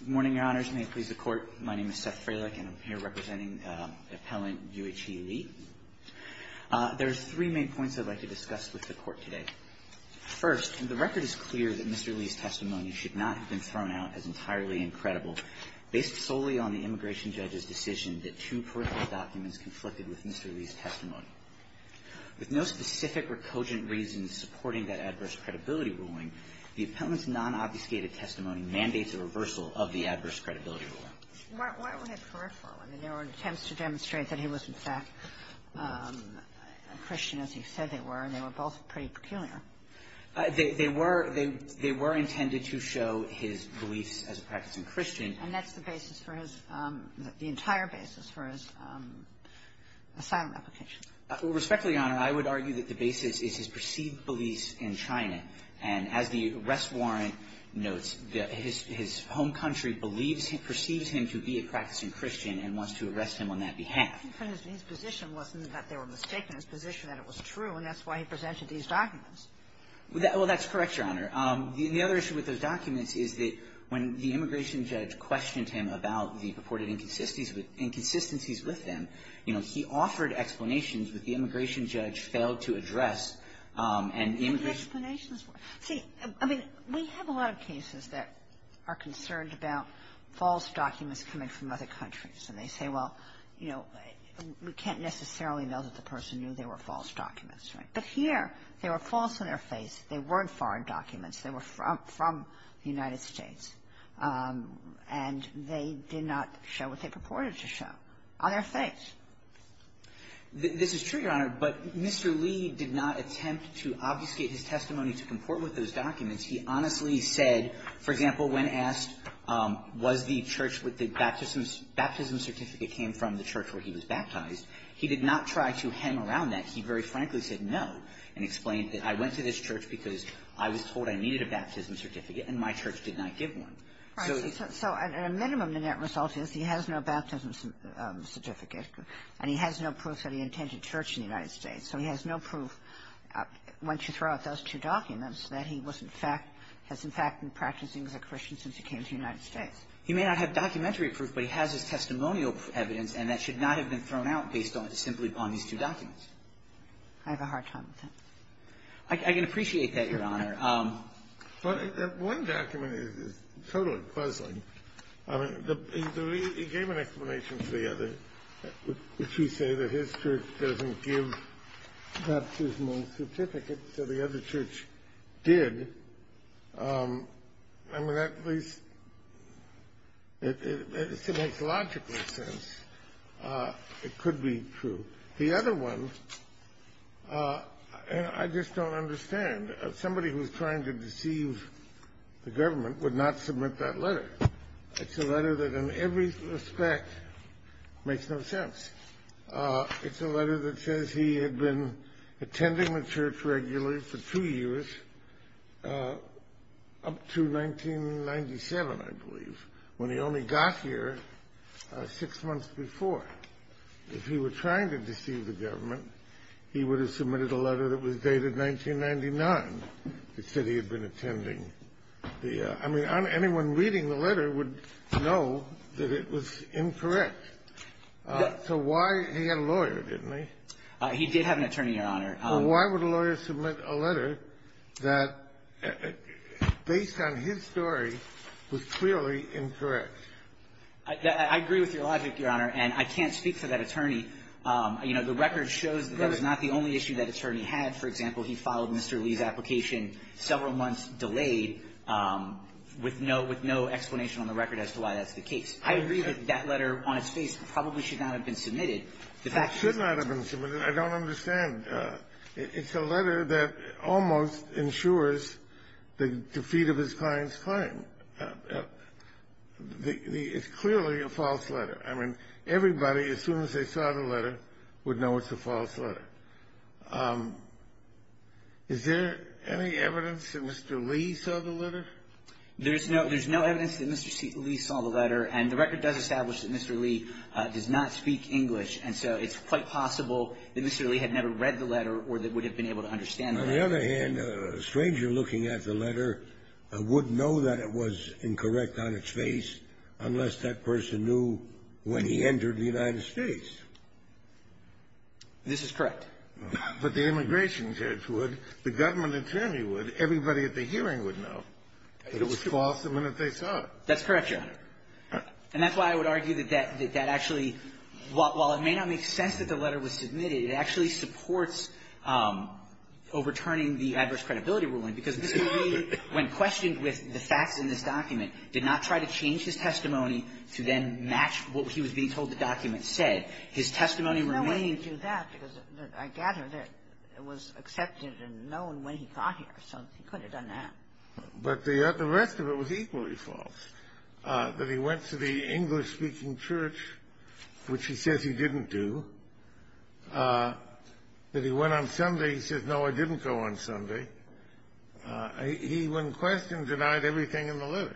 Good morning, Your Honors. May it please the Court, my name is Seth Fralick and I'm here representing Appellant U.H.E. Lee. There are three main points I'd like to discuss with the Court today. First, the record is clear that Mr. Lee's testimony should not have been thrown out as entirely incredible based solely on the immigration judge's decision that two peripheral documents conflicted with Mr. Lee's testimony. With no specific or cogent reason supporting that adverse credibility ruling, the Appellant's non-obfuscated testimony mandates a reversal of the adverse credibility ruling. Why would it peripheral? I mean, there were attempts to demonstrate that he was, in fact, a Christian, as he said they were, and they were both pretty peculiar. They were intended to show his beliefs as a practicing Christian. And that's the basis for his – the entire basis for his asylum application. Respectfully, Your Honor, I would argue that the basis is his perceived beliefs in China. And as the arrest warrant notes, his home country believes – perceives him to be a practicing Christian and wants to arrest him on that behalf. But his position wasn't that they were mistaken. His position was that it was true, and that's why he presented these documents. Well, that's correct, Your Honor. The other issue with those documents is that when the immigration judge questioned him about the purported inconsistencies with them, you know, he offered explanations, but the immigration judge failed to address an immigration – But the explanations were – see, I mean, we have a lot of cases that are concerned about false documents coming from other countries. And they say, well, you know, we can't necessarily know that the person knew they were false documents, right? But here, they were false in their face. They weren't foreign documents. They were from the United States. And they did not show what they purported to show on their face. This is true, Your Honor, but Mr. Lee did not attempt to obfuscate his testimony to comport with those documents. He honestly said, for example, when asked was the church with the baptism certificate came from the church where he was baptized, he did not try to hem around that. He very frankly said no and explained that I went to this church because I was told I needed a baptism certificate, and my church did not give one. So he – So at a minimum, the net result is he has no baptism certificate, and he has no proof that he attended church in the United States. So he has no proof, once you throw out those two documents, that he was in fact – has in fact been practicing as a Christian since he came to the United States. He may not have documentary proof, but he has his testimonial evidence, and that should not have been thrown out based on – simply on these two documents. I have a hard time with that. I can appreciate that, Your Honor. But one document is totally puzzling. I mean, the – he gave an explanation to the other, which he said that his church doesn't give baptismal certificates, so the other church did. I mean, that at least – it makes logical sense. It could be true. The other one – and I just don't understand. Somebody who's trying to deceive the government would not submit that letter. It's a letter that in every respect makes no sense. It's a letter that says he had been attending the church regularly for two years up to 1997, I believe, when he only got here six months before. If he were trying to deceive the government, he would have submitted a letter that was dated 1999 that said he had been attending the – I mean, anyone reading the letter would know that it was incorrect. So why – he had a lawyer, didn't he? He did have an attorney, Your Honor. Well, why would a lawyer submit a letter that, based on his story, was clearly incorrect? I agree with your logic, Your Honor, and I can't speak for that attorney. You know, the record shows that that was not the only issue that attorney had. For example, he filed Mr. Lee's application several months delayed with no – with no explanation on the record as to why that's the case. I agree that that letter on its face probably should not have been submitted. The fact is – It should not have been submitted. I don't understand. It's a letter that almost ensures the defeat of his client's claim. It's clearly a false letter. I mean, everybody, as soon as they saw the letter, would know it's a false letter. Is there any evidence that Mr. Lee saw the letter? There's no – there's no evidence that Mr. Lee saw the letter, and the record does establish that Mr. Lee does not speak English, and so it's quite possible that Mr. Lee had never read the letter or that would have been able to understand the letter. On the other hand, a stranger looking at the letter would know that it was incorrect on its face unless that person knew when he entered the United States. This is correct. But the immigration judge would, the government attorney would, everybody at the hearing would know that it was false the minute they saw it. That's correct, Your Honor. And that's why I would argue that that actually – while it may not make sense that the letter was submitted, it actually supports overturning the adverse credibility ruling, because Mr. Lee, when questioned with the facts in this document, did not try to change his testimony to then match what he was being told the document said. His testimony remained. No one knew that, because I gather that it was accepted and known when he got here, so he could have done that. But the rest of it was equally false, that he went to the English-speaking church, which he says he didn't do, that he went on Sunday, he says, no, I didn't go on Sunday. He, when questioned, denied everything in the letter.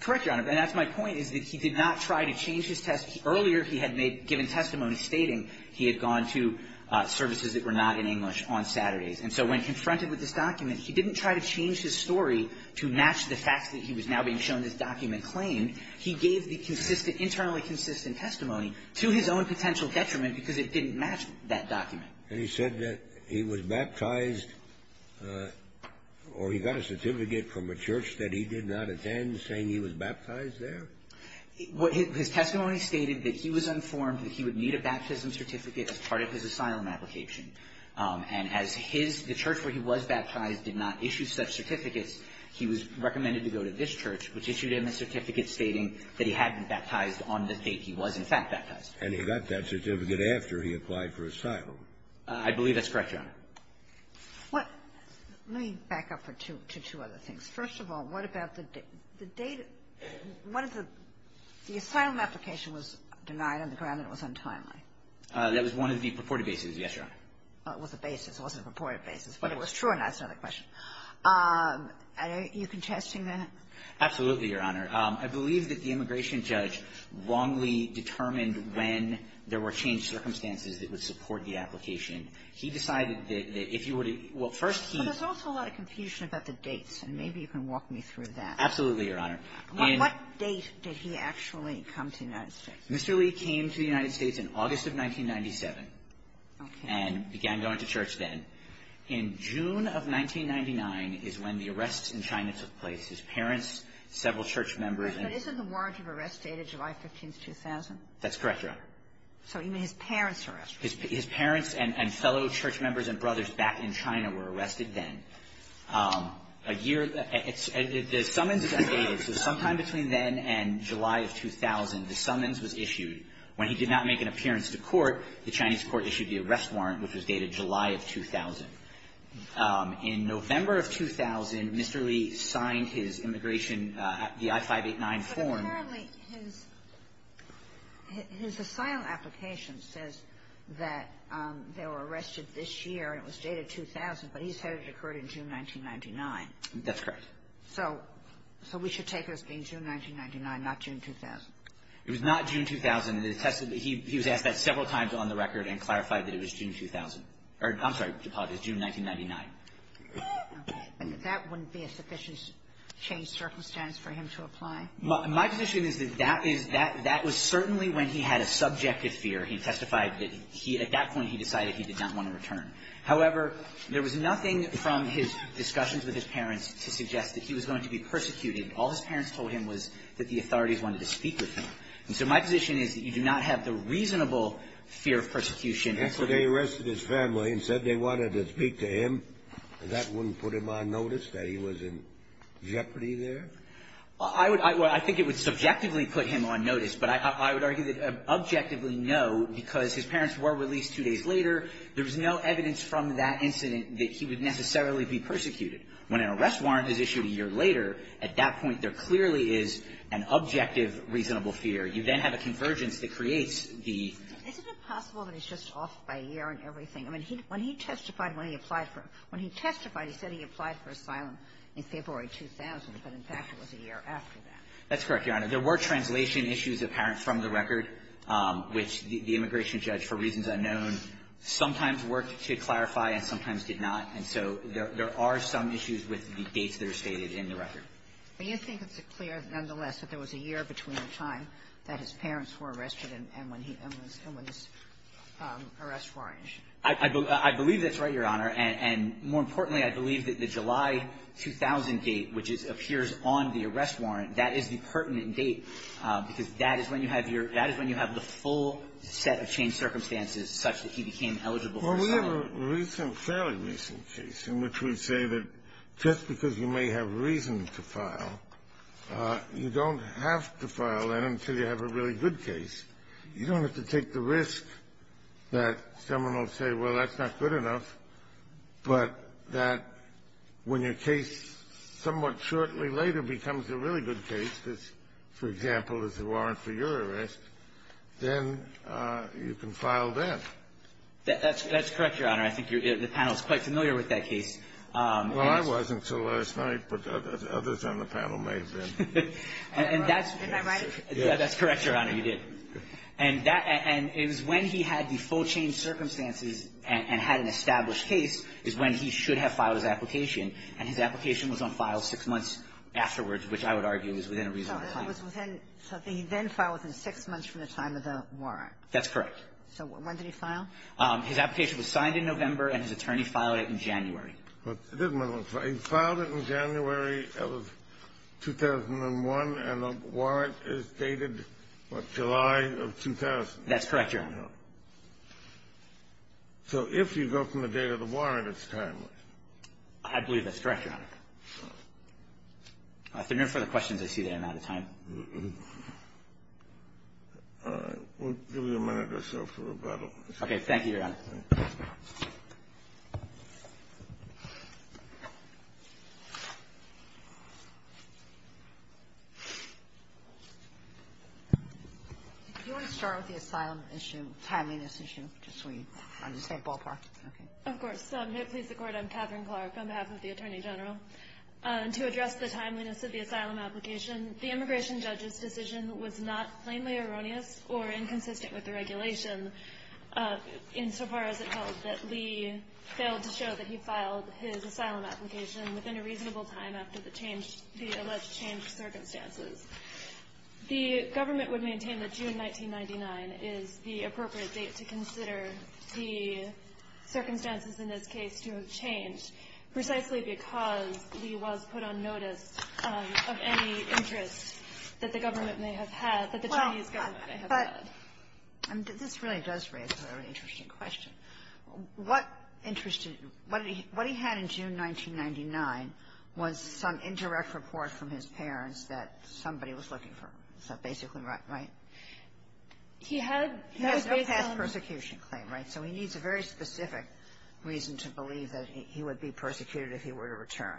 Correct, Your Honor. And that's my point, is that he did not try to change his testimony. Earlier, he had given testimony stating he had gone to services that were not in English on Saturdays. And so when confronted with this document, he didn't try to change his story to match the facts that he was now being shown this document claimed. He gave the consistent, internally consistent testimony to his own potential detriment because it didn't match that document. And he said that he was baptized, or he got a certificate from a church that he did not attend saying he was baptized there? His testimony stated that he was informed that he would need a baptism certificate as part of his asylum application. And as his church, where he was baptized, did not issue such certificates, he was recommended to go to this church, which issued him a certificate stating that he had been baptized on the date he was in fact baptized. And he got that certificate after he applied for asylum. I believe that's correct, Your Honor. Let me back up to two other things. First of all, what about the date of the asylum application was denied on the ground and it was untimely? That was one of the purported bases, yes, Your Honor. It was a basis. It wasn't a purported basis. But it was true, and that's another question. Are you contesting that? Absolutely, Your Honor. I believe that the immigration judge wrongly determined when there were changed circumstances that would support the application. He decided that if you were to – well, first he – There's also a lot of confusion about the dates, and maybe you can walk me through that. Absolutely, Your Honor. What date did he actually come to the United States? Mr. Lee came to the United States in August of 1997. Okay. And began going to church then. In June of 1999 is when the arrests in China took place. His parents, several church members and – But isn't the warrant of arrest dated July 15th, 2000? That's correct, Your Honor. So even his parents were arrested? His parents and fellow church members and brothers back in China were arrested then. A year – the summons is undated. So sometime between then and July of 2000, the summons was issued. When he did not make an appearance to court, the Chinese court issued the arrest warrant, which was dated July of 2000. In November of 2000, Mr. Lee signed his immigration – the I-589 form. Apparently, his – his asylum application says that they were arrested this year, and it was dated 2000, but he said it occurred in June 1999. That's correct. So – so we should take it as being June 1999, not June 2000? It was not June 2000. It attested – he was asked that several times on the record and clarified that it was June 2000. I'm sorry. Apologies. June 1999. That wouldn't be a sufficient change of circumstance for him to apply? My position is that that is – that was certainly when he had a subjective fear. He testified that he – at that point, he decided he did not want to return. However, there was nothing from his discussions with his parents to suggest that he was going to be persecuted. All his parents told him was that the authorities wanted to speak with him. And so my position is that you do not have the reasonable fear of persecution. And so they arrested his family and said they wanted to speak to him, and that wouldn't put him on notice that he was in jeopardy there? I would – I think it would subjectively put him on notice, but I would argue that objectively, no, because his parents were released two days later, there was no evidence from that incident that he would necessarily be persecuted. When an arrest warrant is issued a year later, at that point, there clearly is an objective, reasonable fear. You then have a convergence that creates the – Isn't it possible that he's just off by a year and everything? I mean, when he testified when he applied for – when he testified, he said he applied for asylum in February 2000, but in fact, it was a year after that. That's correct, Your Honor. There were translation issues of parents from the record, which the immigration judge, for reasons unknown, sometimes worked to clarify and sometimes did not. And so there are some issues with the dates that are stated in the record. Do you think it's clear, nonetheless, that there was a year between the time that his parents were arrested and when he – and when this arrest warrant issued? I believe that's right, Your Honor. And more importantly, I believe that the July 2000 date, which is – appears on the arrest warrant, that is the pertinent date, because that is when you have your – that is when you have the full set of changed circumstances such that he became eligible for asylum. Well, we have a recent, fairly recent case in which we say that just because you may have reason to file, you don't have to file that until you have a really good case. You don't have to take the risk that someone will say, well, that's not good enough, but that when your case somewhat shortly later becomes a really good case, which, for example, is the warrant for your arrest, then you can file that. That's correct, Your Honor. I think the panel is quite familiar with that case. Well, I wasn't until last night, but others on the panel may have been. And that's – Am I right? That's correct, Your Honor. Yeah, you did. And that – and it was when he had the full changed circumstances and had an established case is when he should have filed his application. And his application was on file six months afterwards, which I would argue is within a reasonable time. So it was within – so he then filed within six months from the time of the warrant. That's correct. So when did he file? His application was signed in November, and his attorney filed it in January. He filed it in January of 2001, and the warrant is dated, what, July of 2000? That's correct, Your Honor. So if you go from the date of the warrant, it's timely. I believe that's correct, Your Honor. If there are no further questions, I see that I'm out of time. All right. We'll give you a minute or so for rebuttal. Thank you, Your Honor. Thank you. Do you want to start with the asylum issue, timeliness issue, just so we understand ballpark? Okay. Of course. May it please the Court, I'm Katherine Clark on behalf of the Attorney General. To address the timeliness of the asylum application, the immigration judge's decision was not plainly erroneous or inconsistent with the regulation insofar as it held that Lee failed to show that he filed his asylum application within a reasonable time after the alleged changed circumstances. The government would maintain that June 1999 is the appropriate date to consider the circumstances in this case to have changed, precisely because Lee was put on notice of any interest that the government may have had, that the Chinese government may have had. This really does raise a very interesting question. What he had in June 1999 was some indirect report from his parents that somebody was looking for him. Is that basically right? He had no past persecution claim, right? So he needs a very specific reason to believe that he would be persecuted if he were to return.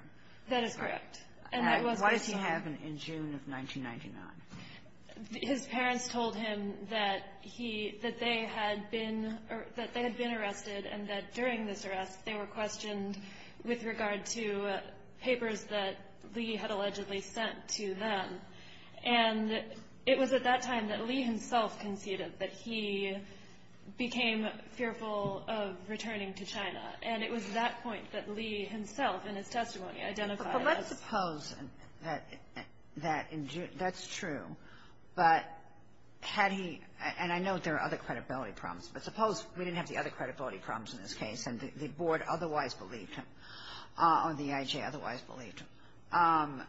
That is correct. And that was the case. And why does he have it in June of 1999? His parents told him that he – that they had been – that they had been arrested and that during this arrest, they were questioned with regard to papers that Lee had allegedly sent to them. And it was at that time that Lee himself conceded that he became fearful of returning to China. And it was at that point that Lee himself in his testimony identified as – But let's suppose that in June – that's true. But had he – and I know there are other credibility problems, but suppose we didn't have the other credibility problems in this case and the board otherwise believed him or the IJ otherwise believed him.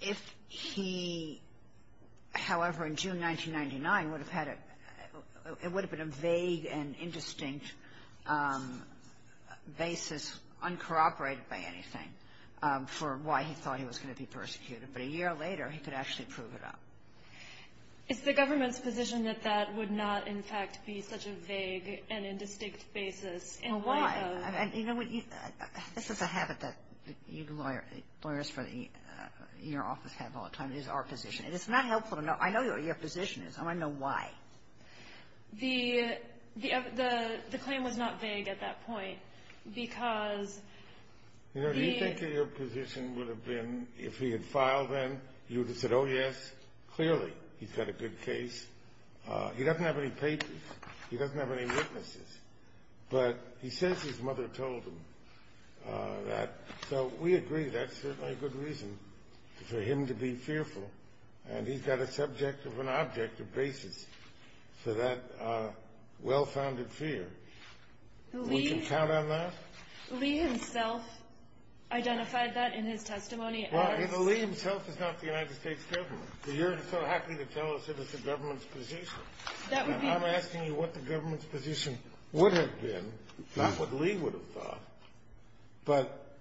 If he, however, in June 1999 would have had a – it would have been a vague and indistinct basis, uncorroborated by anything, for why he thought he was going to be persecuted. But a year later, he could actually prove it up. Is the government's position that that would not, in fact, be such a vague and indistinct basis? Well, why? You know, this is a habit that lawyers for your office have all the time is our position. And it's not helpful to know. I know what your position is. I want to know why. The claim was not vague at that point because he – You know, do you think that your position would have been if he had filed then, you would have said, oh, yes, clearly he's got a good case. He doesn't have any papers. He doesn't have any witnesses. But he says his mother told him that. So we agree that's certainly a good reason for him to be fearful. And he's got a subject of an objective basis for that well-founded fear. We can count on that? Lee himself identified that in his testimony. Well, you know, Lee himself is not the United States government. You're so happy to tell us it is the government's position. And I'm asking you what the government's position would have been, not what Lee would have thought. But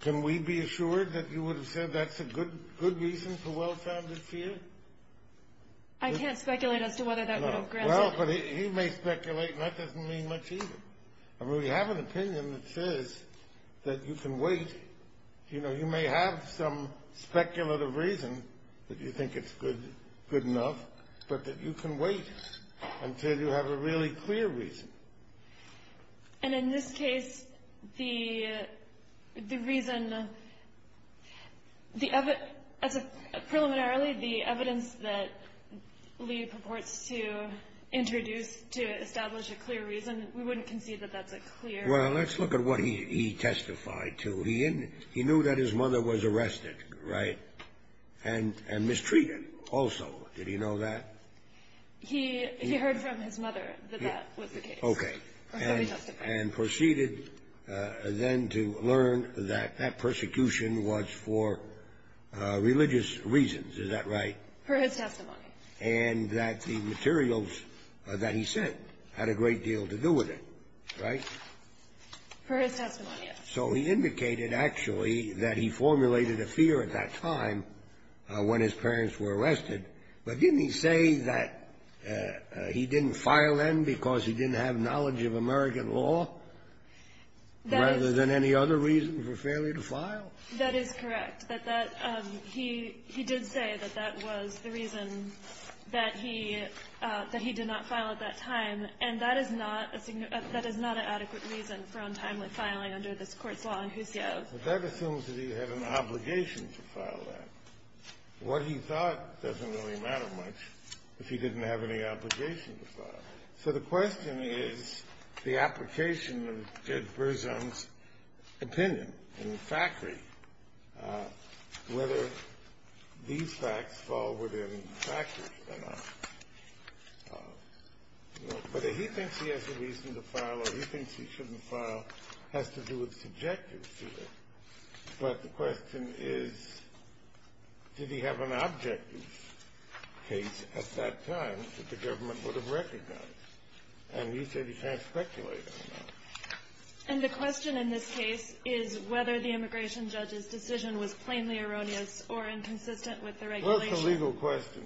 can we be assured that you would have said that's a good reason for well-founded fear? I can't speculate as to whether that would have granted him. Well, but he may speculate, and that doesn't mean much either. I mean, we have an opinion that says that you can wait. Until you have a really clear reason. And in this case, the reason, as a preliminary, the evidence that Lee purports to introduce to establish a clear reason, we wouldn't concede that that's a clear reason. Well, let's look at what he testified to. He knew that his mother was arrested, right, and mistreated also. Did he know that? He heard from his mother that that was the case. Okay. And proceeded then to learn that that persecution was for religious reasons. Is that right? For his testimony. And that the materials that he sent had a great deal to do with it, right? For his testimony, yes. So he indicated, actually, that he formulated a fear at that time when his parents were arrested. But didn't he say that he didn't file then because he didn't have knowledge of American law rather than any other reason for failure to file? That is correct. He did say that that was the reason that he did not file at that time. And that is not a significant – that is not an adequate reason for untimely filing under this Court's law in Husio. But that assumes that he had an obligation to file that. What he thought doesn't really matter much if he didn't have any obligation to file. So the question is the application of Judge Berzon's opinion in the factory, whether these facts fall within the factory or not. Whether he thinks he has a reason to file or he thinks he shouldn't file has to do with subjective fear. But the question is, did he have an objective case at that time that the government would have recognized? And he said he can't speculate on that. And the question in this case is whether the immigration judge's decision was plainly erroneous or inconsistent with the regulation. Well, it's a legal question.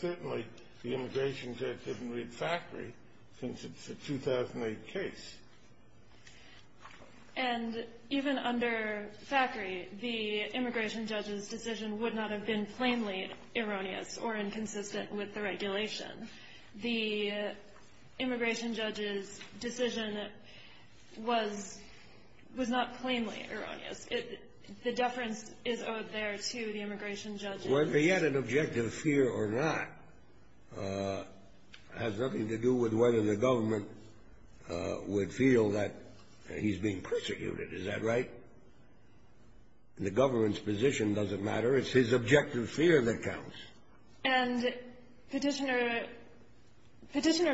Certainly the immigration judge didn't read factory since it's a 2008 case. And even under factory, the immigration judge's decision would not have been plainly erroneous or inconsistent with the regulation. The immigration judge's decision was not plainly erroneous. The deference is owed there to the immigration judge. Whether he had an objective fear or not has nothing to do with whether the government would feel that he's being persecuted. Is that right? The government's position doesn't matter. It's his objective fear that counts. And Petitioner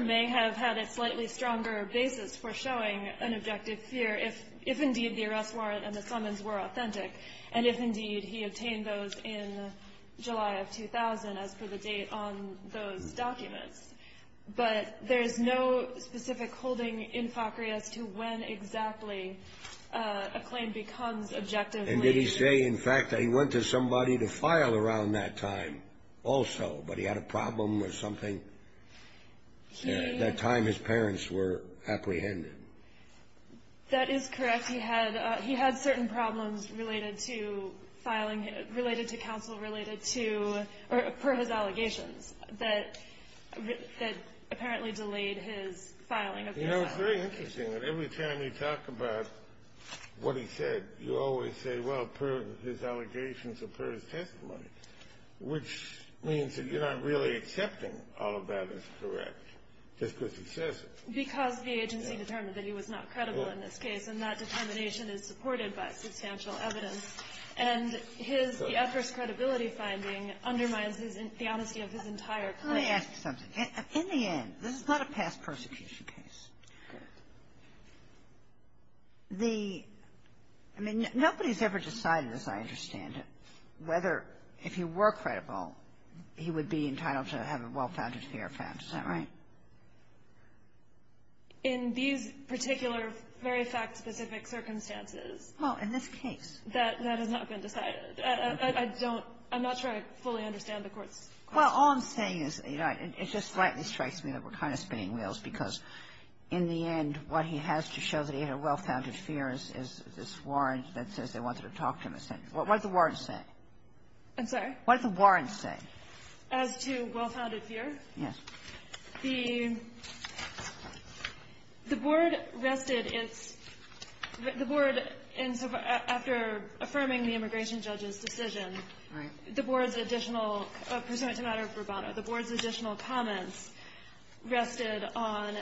may have had a slightly stronger basis for showing an objective fear if indeed the arrest warrant and the summons were authentic, and if indeed he obtained those in July of 2000 as per the date on those documents. But there's no specific holding in factory as to when exactly a claim becomes objective. And did he say, in fact, that he went to somebody to file around that time also, but he had a problem with something at that time his parents were apprehended? That is correct. He had certain problems related to filing, related to counsel, related to or per his allegations that apparently delayed his filing. You know, it's very interesting that every time you talk about what he said, you always say, well, per his allegations or per his testimony, which means that you're not really accepting all of that as correct just because he says it. Because the agency determined that he was not credible in this case, and that determination is supported by substantial evidence. And his adverse credibility finding undermines the honesty of his entire claim. Let me ask you something. In the end, this is not a past persecution case. The – I mean, nobody's ever decided, as I understand it, whether if he were credible, he would be entitled to have a well-founded fear found. Is that right? In these particular very fact-specific circumstances. Well, in this case. That has not been decided. I don't – I'm not sure I fully understand the Court's question. Well, all I'm saying is, you know, it just slightly strikes me that we're kind of spinning wheels, because in the end, what he has to show that he had a well-founded fear is this warrant that says they wanted to talk to him. What does the warrant say? I'm sorry? What does the warrant say? As to well-founded fear? Yes. The Board rested its – the Board, after affirming the immigration judge's decision, Right. the Board's additional – pursuant to matter of bravado – the Board's additional comments rested on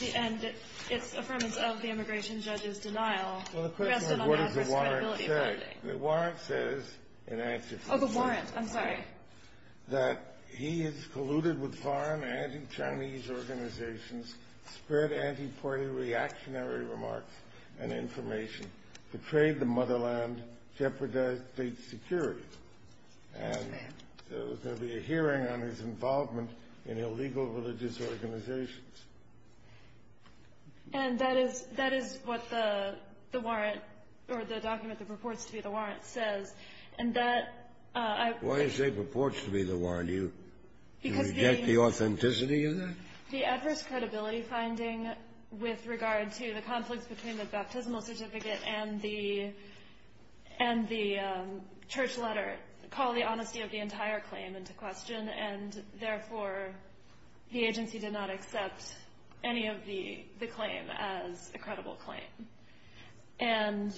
the – and its affirmance of the immigration judge's denial rested on the adverse credibility finding. Well, the question is, what does the warrant say? The warrant says, in answer to this case. Oh, the warrant. I'm sorry. That he has colluded with foreign anti-Chinese organizations, spread anti-party reactionary remarks and information, betrayed the motherland, jeopardized state security. Yes, ma'am. And there was going to be a hearing on his involvement in illegal religious organizations. And that is – that is what the warrant – or the document that purports to be the warrant says. And that I – Why do you say purports to be the warrant? Do you reject the authenticity of that? The adverse credibility finding with regard to the conflicts between the baptismal certificate and the – and the church letter call the honesty of the entire claim into question. And therefore, the agency did not accept any of the claim as a credible claim. And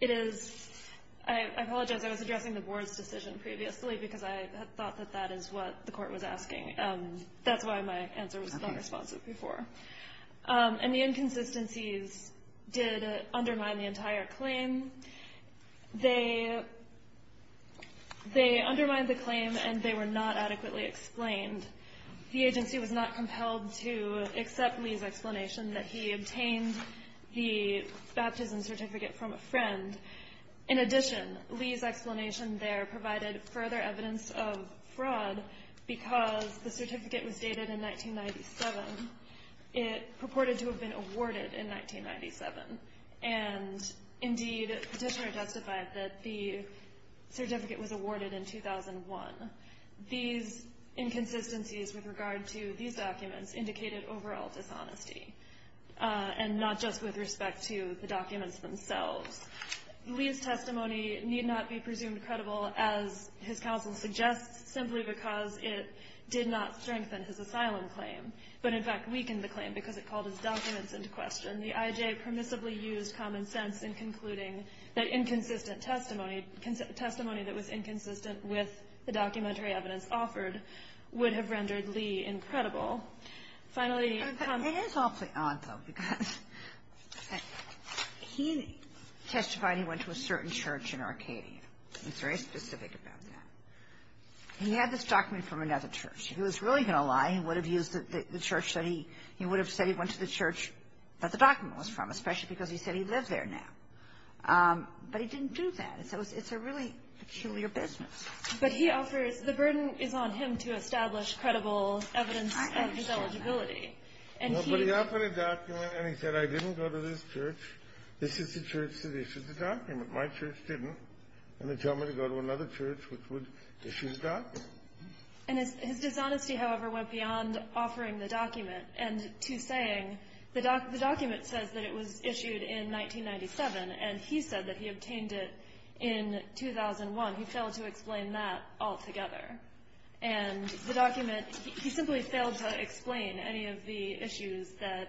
it is – I apologize. I was addressing the Board's decision previously because I thought that that is what the Court was asking. That's why my answer was not responsive before. Okay. And the inconsistencies did undermine the entire claim. They – they undermined the claim and they were not adequately explained. The agency was not compelled to accept Lee's explanation that he obtained the baptismal certificate from a friend. And in addition, Lee's explanation there provided further evidence of fraud because the certificate was dated in 1997. It purported to have been awarded in 1997. And indeed, Petitioner justified that the certificate was awarded in 2001. These inconsistencies with regard to these documents indicated overall dishonesty and not just with respect to the documents themselves. Lee's testimony need not be presumed credible, as his counsel suggests, simply because it did not strengthen his asylum claim, but in fact weakened the claim because it called his documents into question. The IJ permissibly used common sense in concluding that inconsistent testimony – testimony that was inconsistent with the documentary evidence offered would have rendered Lee incredible. Finally – It is awfully odd, though, because he testified he went to a certain church in Arcadia. He's very specific about that. He had this document from another church. If he was really going to lie, he would have used the church that he – he would have said he went to the church that the document was from, especially because he said he lived there now. But he didn't do that. It's a really peculiar business. But he offers – the burden is on him to establish credible evidence of his eligibility. And he – But he offered a document, and he said, I didn't go to this church. This is the church that issued the document. My church didn't. And they tell me to go to another church which would issue the document. And his dishonesty, however, went beyond offering the document and to saying the document says that it was issued in 1997, and he said that he obtained it in 2001. He failed to explain that altogether. And the document – he simply failed to explain any of the issues that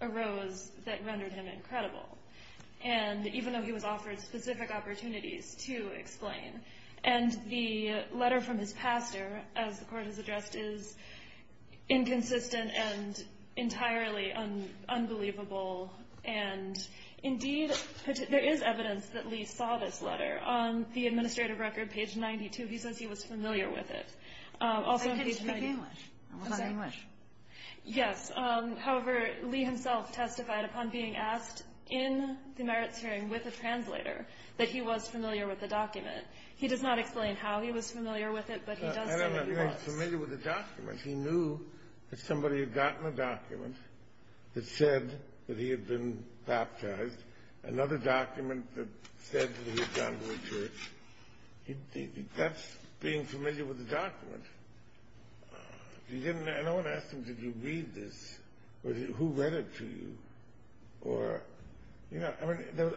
arose that rendered him incredible, and even though he was offered specific opportunities to explain. And the letter from his pastor, as the Court has addressed, is inconsistent and entirely unbelievable. And indeed, there is evidence that Lee saw this letter. On the administrative record, page 92, he says he was familiar with it. Also on page – It's in English. It was in English. Yes. However, Lee himself testified upon being asked in the merits hearing with a translator that he was familiar with the document. He does not explain how he was familiar with it, but he does say he was. I don't know if he was familiar with the document. He knew that somebody had gotten a document that said that he had been baptized, another document that said that he had gone to a church. That's being familiar with the document. No one asked him, did you read this? Who read it to you? The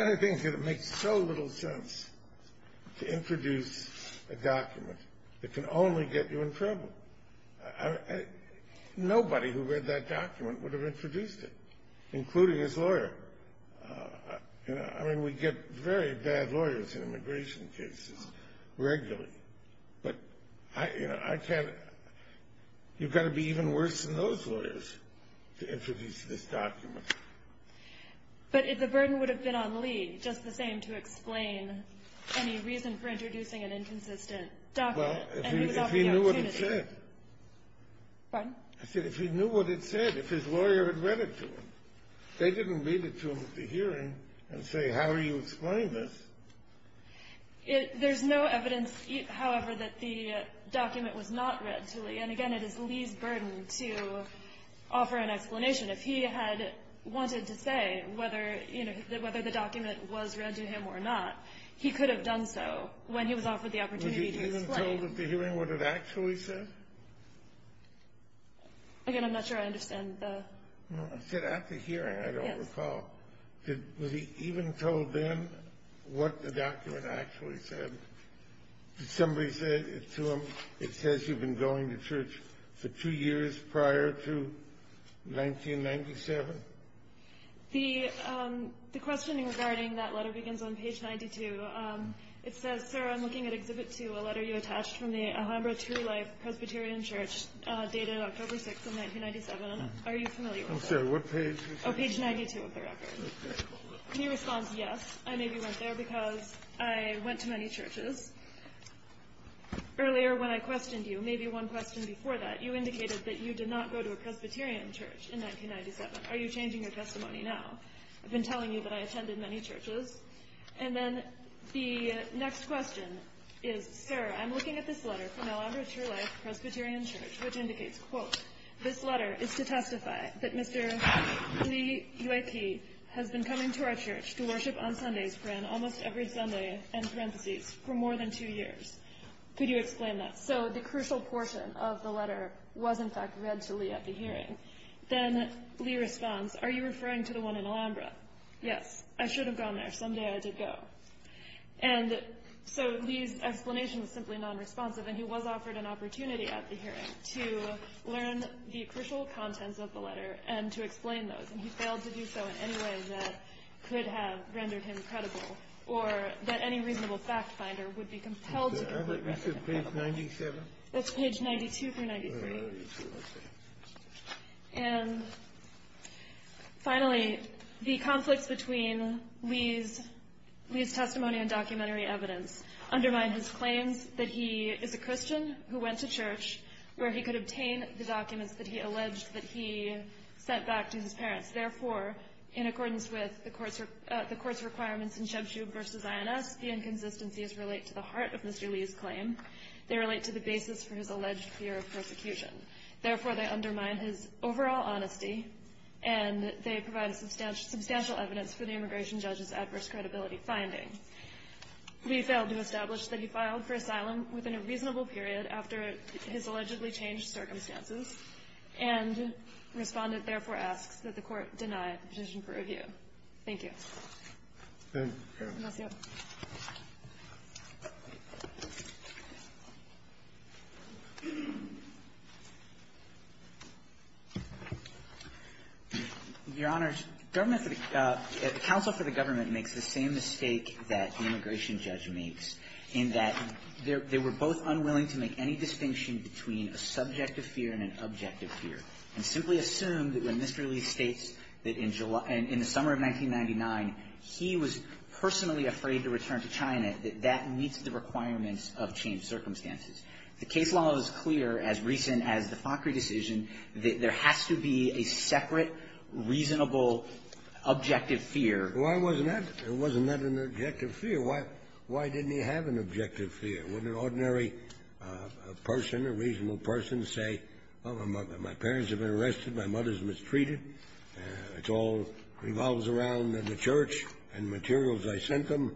other thing is that it makes so little sense to introduce a document that can only get you in trouble. Nobody who read that document would have introduced it, including his lawyer. I mean, we get very bad lawyers in immigration cases regularly. But, you know, I can't – you've got to be even worse than those lawyers to introduce this document. But the burden would have been on Lee, just the same, to explain any reason for introducing an inconsistent document. And he was offering the opportunity. Well, if he knew what it said. Pardon? I said if he knew what it said, if his lawyer had read it to him. They didn't read it to him at the hearing and say, how are you explaining this? There's no evidence, however, that the document was not read to Lee. And, again, it is Lee's burden to offer an explanation. If he had wanted to say whether the document was read to him or not, he could have done so when he was offered the opportunity to explain. Was he even told at the hearing what it actually said? Again, I'm not sure I understand the – I said at the hearing, I don't recall. Yes. Was he even told then what the document actually said? Did somebody say to him, it says you've been going to church for two years prior to 1997? The questioning regarding that letter begins on page 92. It says, sir, I'm looking at Exhibit 2, a letter you attached from the Alhambra True Life Presbyterian Church dated October 6th of 1997. Are you familiar with that? I'm sorry, what page? Oh, page 92 of the record. He responds, yes, I maybe went there because I went to many churches. Earlier when I questioned you, maybe one question before that, you indicated that you did not go to a Presbyterian church in 1997. Are you changing your testimony now? I've been telling you that I attended many churches. And then the next question is, sir, I'm looking at this letter from the Alhambra True Life Presbyterian Church, which indicates, quote, this letter is to testify that Mr. Lee Uyp has been coming to our church to worship on Sundays for almost every Sunday, end parentheses, for more than two years. Could you explain that? So the crucial portion of the letter was, in fact, read to Lee at the hearing. Then Lee responds, are you referring to the one in Alhambra? Yes, I should have gone there. Someday I did go. And so Lee's explanation is simply non-responsive. And he was offered an opportunity at the hearing to learn the crucial contents of the letter and to explain those. And he failed to do so in any way that could have rendered him credible or that any reasonable fact finder would be compelled to complete. I thought you said page 97. That's page 92 through 93. All right. And finally, the conflicts between Lee's testimony and documentary evidence undermine his claims that he is a Christian who went to church where he could obtain the documents that he alleged that he sent back to his parents. Therefore, in accordance with the court's requirements in Cheb Shub v. INS, the inconsistencies relate to the heart of Mr. Lee's claim. They relate to the basis for his alleged fear of persecution. Therefore, they undermine his overall honesty, and they provide substantial evidence for the immigration judge's adverse credibility finding. Lee failed to establish that he filed for asylum within a reasonable period after his allegedly changed circumstances, and the respondent therefore asks that the court deny the petition for review. Thank you. Thank you. Your Honors, government for the – counsel for the government makes the same mistake that the immigration judge makes in that they were both unwilling to make any distinction between a subjective fear and an objective fear, and simply assume that when Mr. Lee states that in July – in the summer of 1999, he was personally afraid to return to China, that that meets the requirements of changed circumstances. The case law is clear, as recent as the FACRI decision, that there has to be a separate, reasonable, objective fear. Why wasn't that – wasn't that an objective fear? Why – why didn't he have an objective fear? When an ordinary person, a reasonable person, say, well, my parents have been arrested. My mother's mistreated. It all revolves around the church and materials I sent them.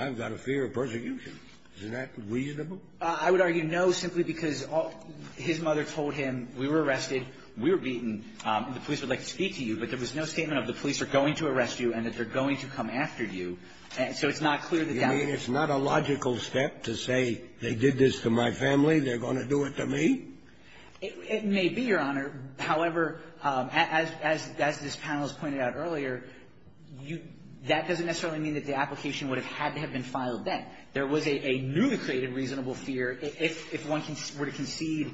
I've got a fear of persecution. Isn't that reasonable? I would argue no, simply because his mother told him, we were arrested. We were beaten. The police would like to speak to you, but there was no statement of the police are going to arrest you and that they're going to come after you. And so it's not clear that that – You mean it's not a logical step to say they did this to my family, they're going to do it to me? It may be, Your Honor. However, as – as this panel has pointed out earlier, you – that doesn't necessarily mean that the application would have had to have been filed then. There was a newly created reasonable fear. If – if one were to concede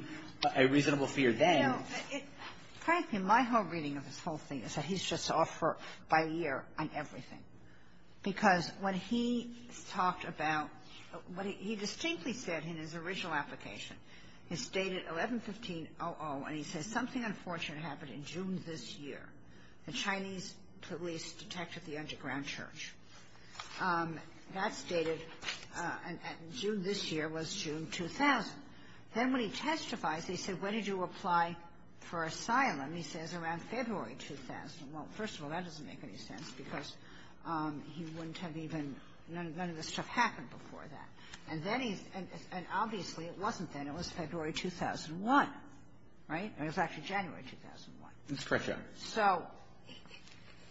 a reasonable fear then – No. Frankly, my whole reading of this whole thing is that he's just off for a year on everything. Because when he talked about – he distinctly said in his original application, he stated 11-15-00, and he says something unfortunate happened in June this year. The Chinese police detected the underground church. That's dated – June this year was June 2000. Then when he testifies, he said, when did you apply for asylum? He says, around February 2000. Well, first of all, that doesn't make any sense because he wouldn't have even – none of this stuff happened before that. And then he's – and obviously it wasn't then. It was February 2001, right? It was actually January 2001. That's correct, Your Honor. So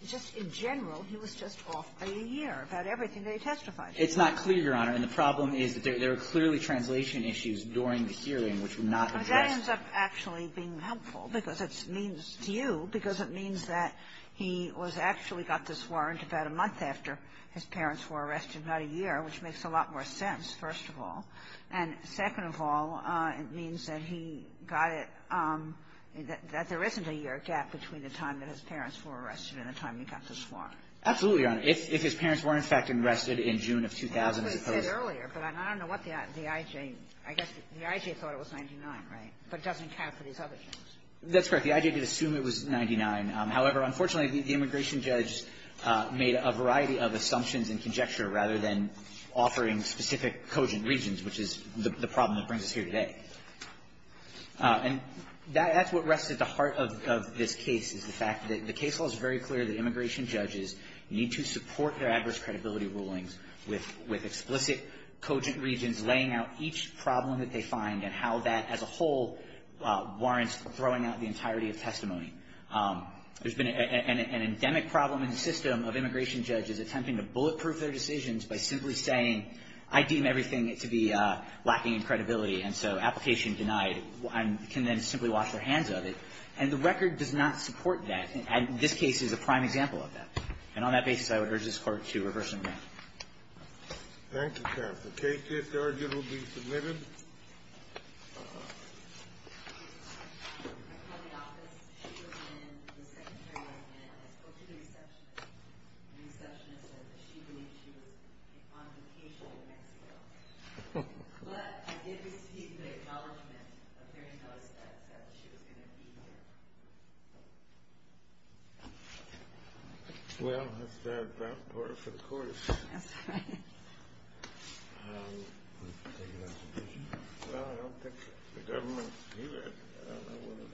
just in general, he was just off for a year about everything that he testified. It's not clear, Your Honor. And the problem is that there were clearly translation issues during the hearing which were not addressed. Well, that ends up actually being helpful because it means – to you, because it means that he was actually got this warrant about a month after his parents were arrested, not a year, which makes a lot more sense, first of all. And second of all, it means that he got it – that there isn't a year gap between the time that his parents were arrested and the time he got this warrant. Absolutely, Your Honor. If his parents were, in fact, arrested in June of 2000, I suppose. I said earlier, but I don't know what the I.G. I guess the I.G. thought it was 99, right? But it doesn't count for these other things. That's correct. The I.G. did assume it was 99. However, unfortunately, the immigration judge made a variety of assumptions and conjecture rather than offering specific cogent reasons, which is the problem that brings us here today. And that's what rests at the heart of this case is the fact that the case law is very clear that immigration judges need to support their adverse credibility rulings with explicit cogent reasons laying out each problem that they find and how that as a whole warrants throwing out the entirety of testimony. There's been an endemic problem in the system of immigration judges attempting to bulletproof their decisions by simply saying, I deem everything to be lacking in credibility, and so application denied. I can then simply wash their hands of it. And the record does not support that. And this case is a prime example of that. And on that basis, I would urge this Court to reverse the ruling. Thank you, counsel. The case is arguably submitted. I called the office. She was in. The secretary was in. I spoke to the receptionist. The receptionist said that she believed she was on vacation in Mexico. But I did receive the acknowledgement of hearing those steps that she was going to be here. Well, that's the advanced part of the Court. Well, I don't think the government's here. I don't know what the basis of that is.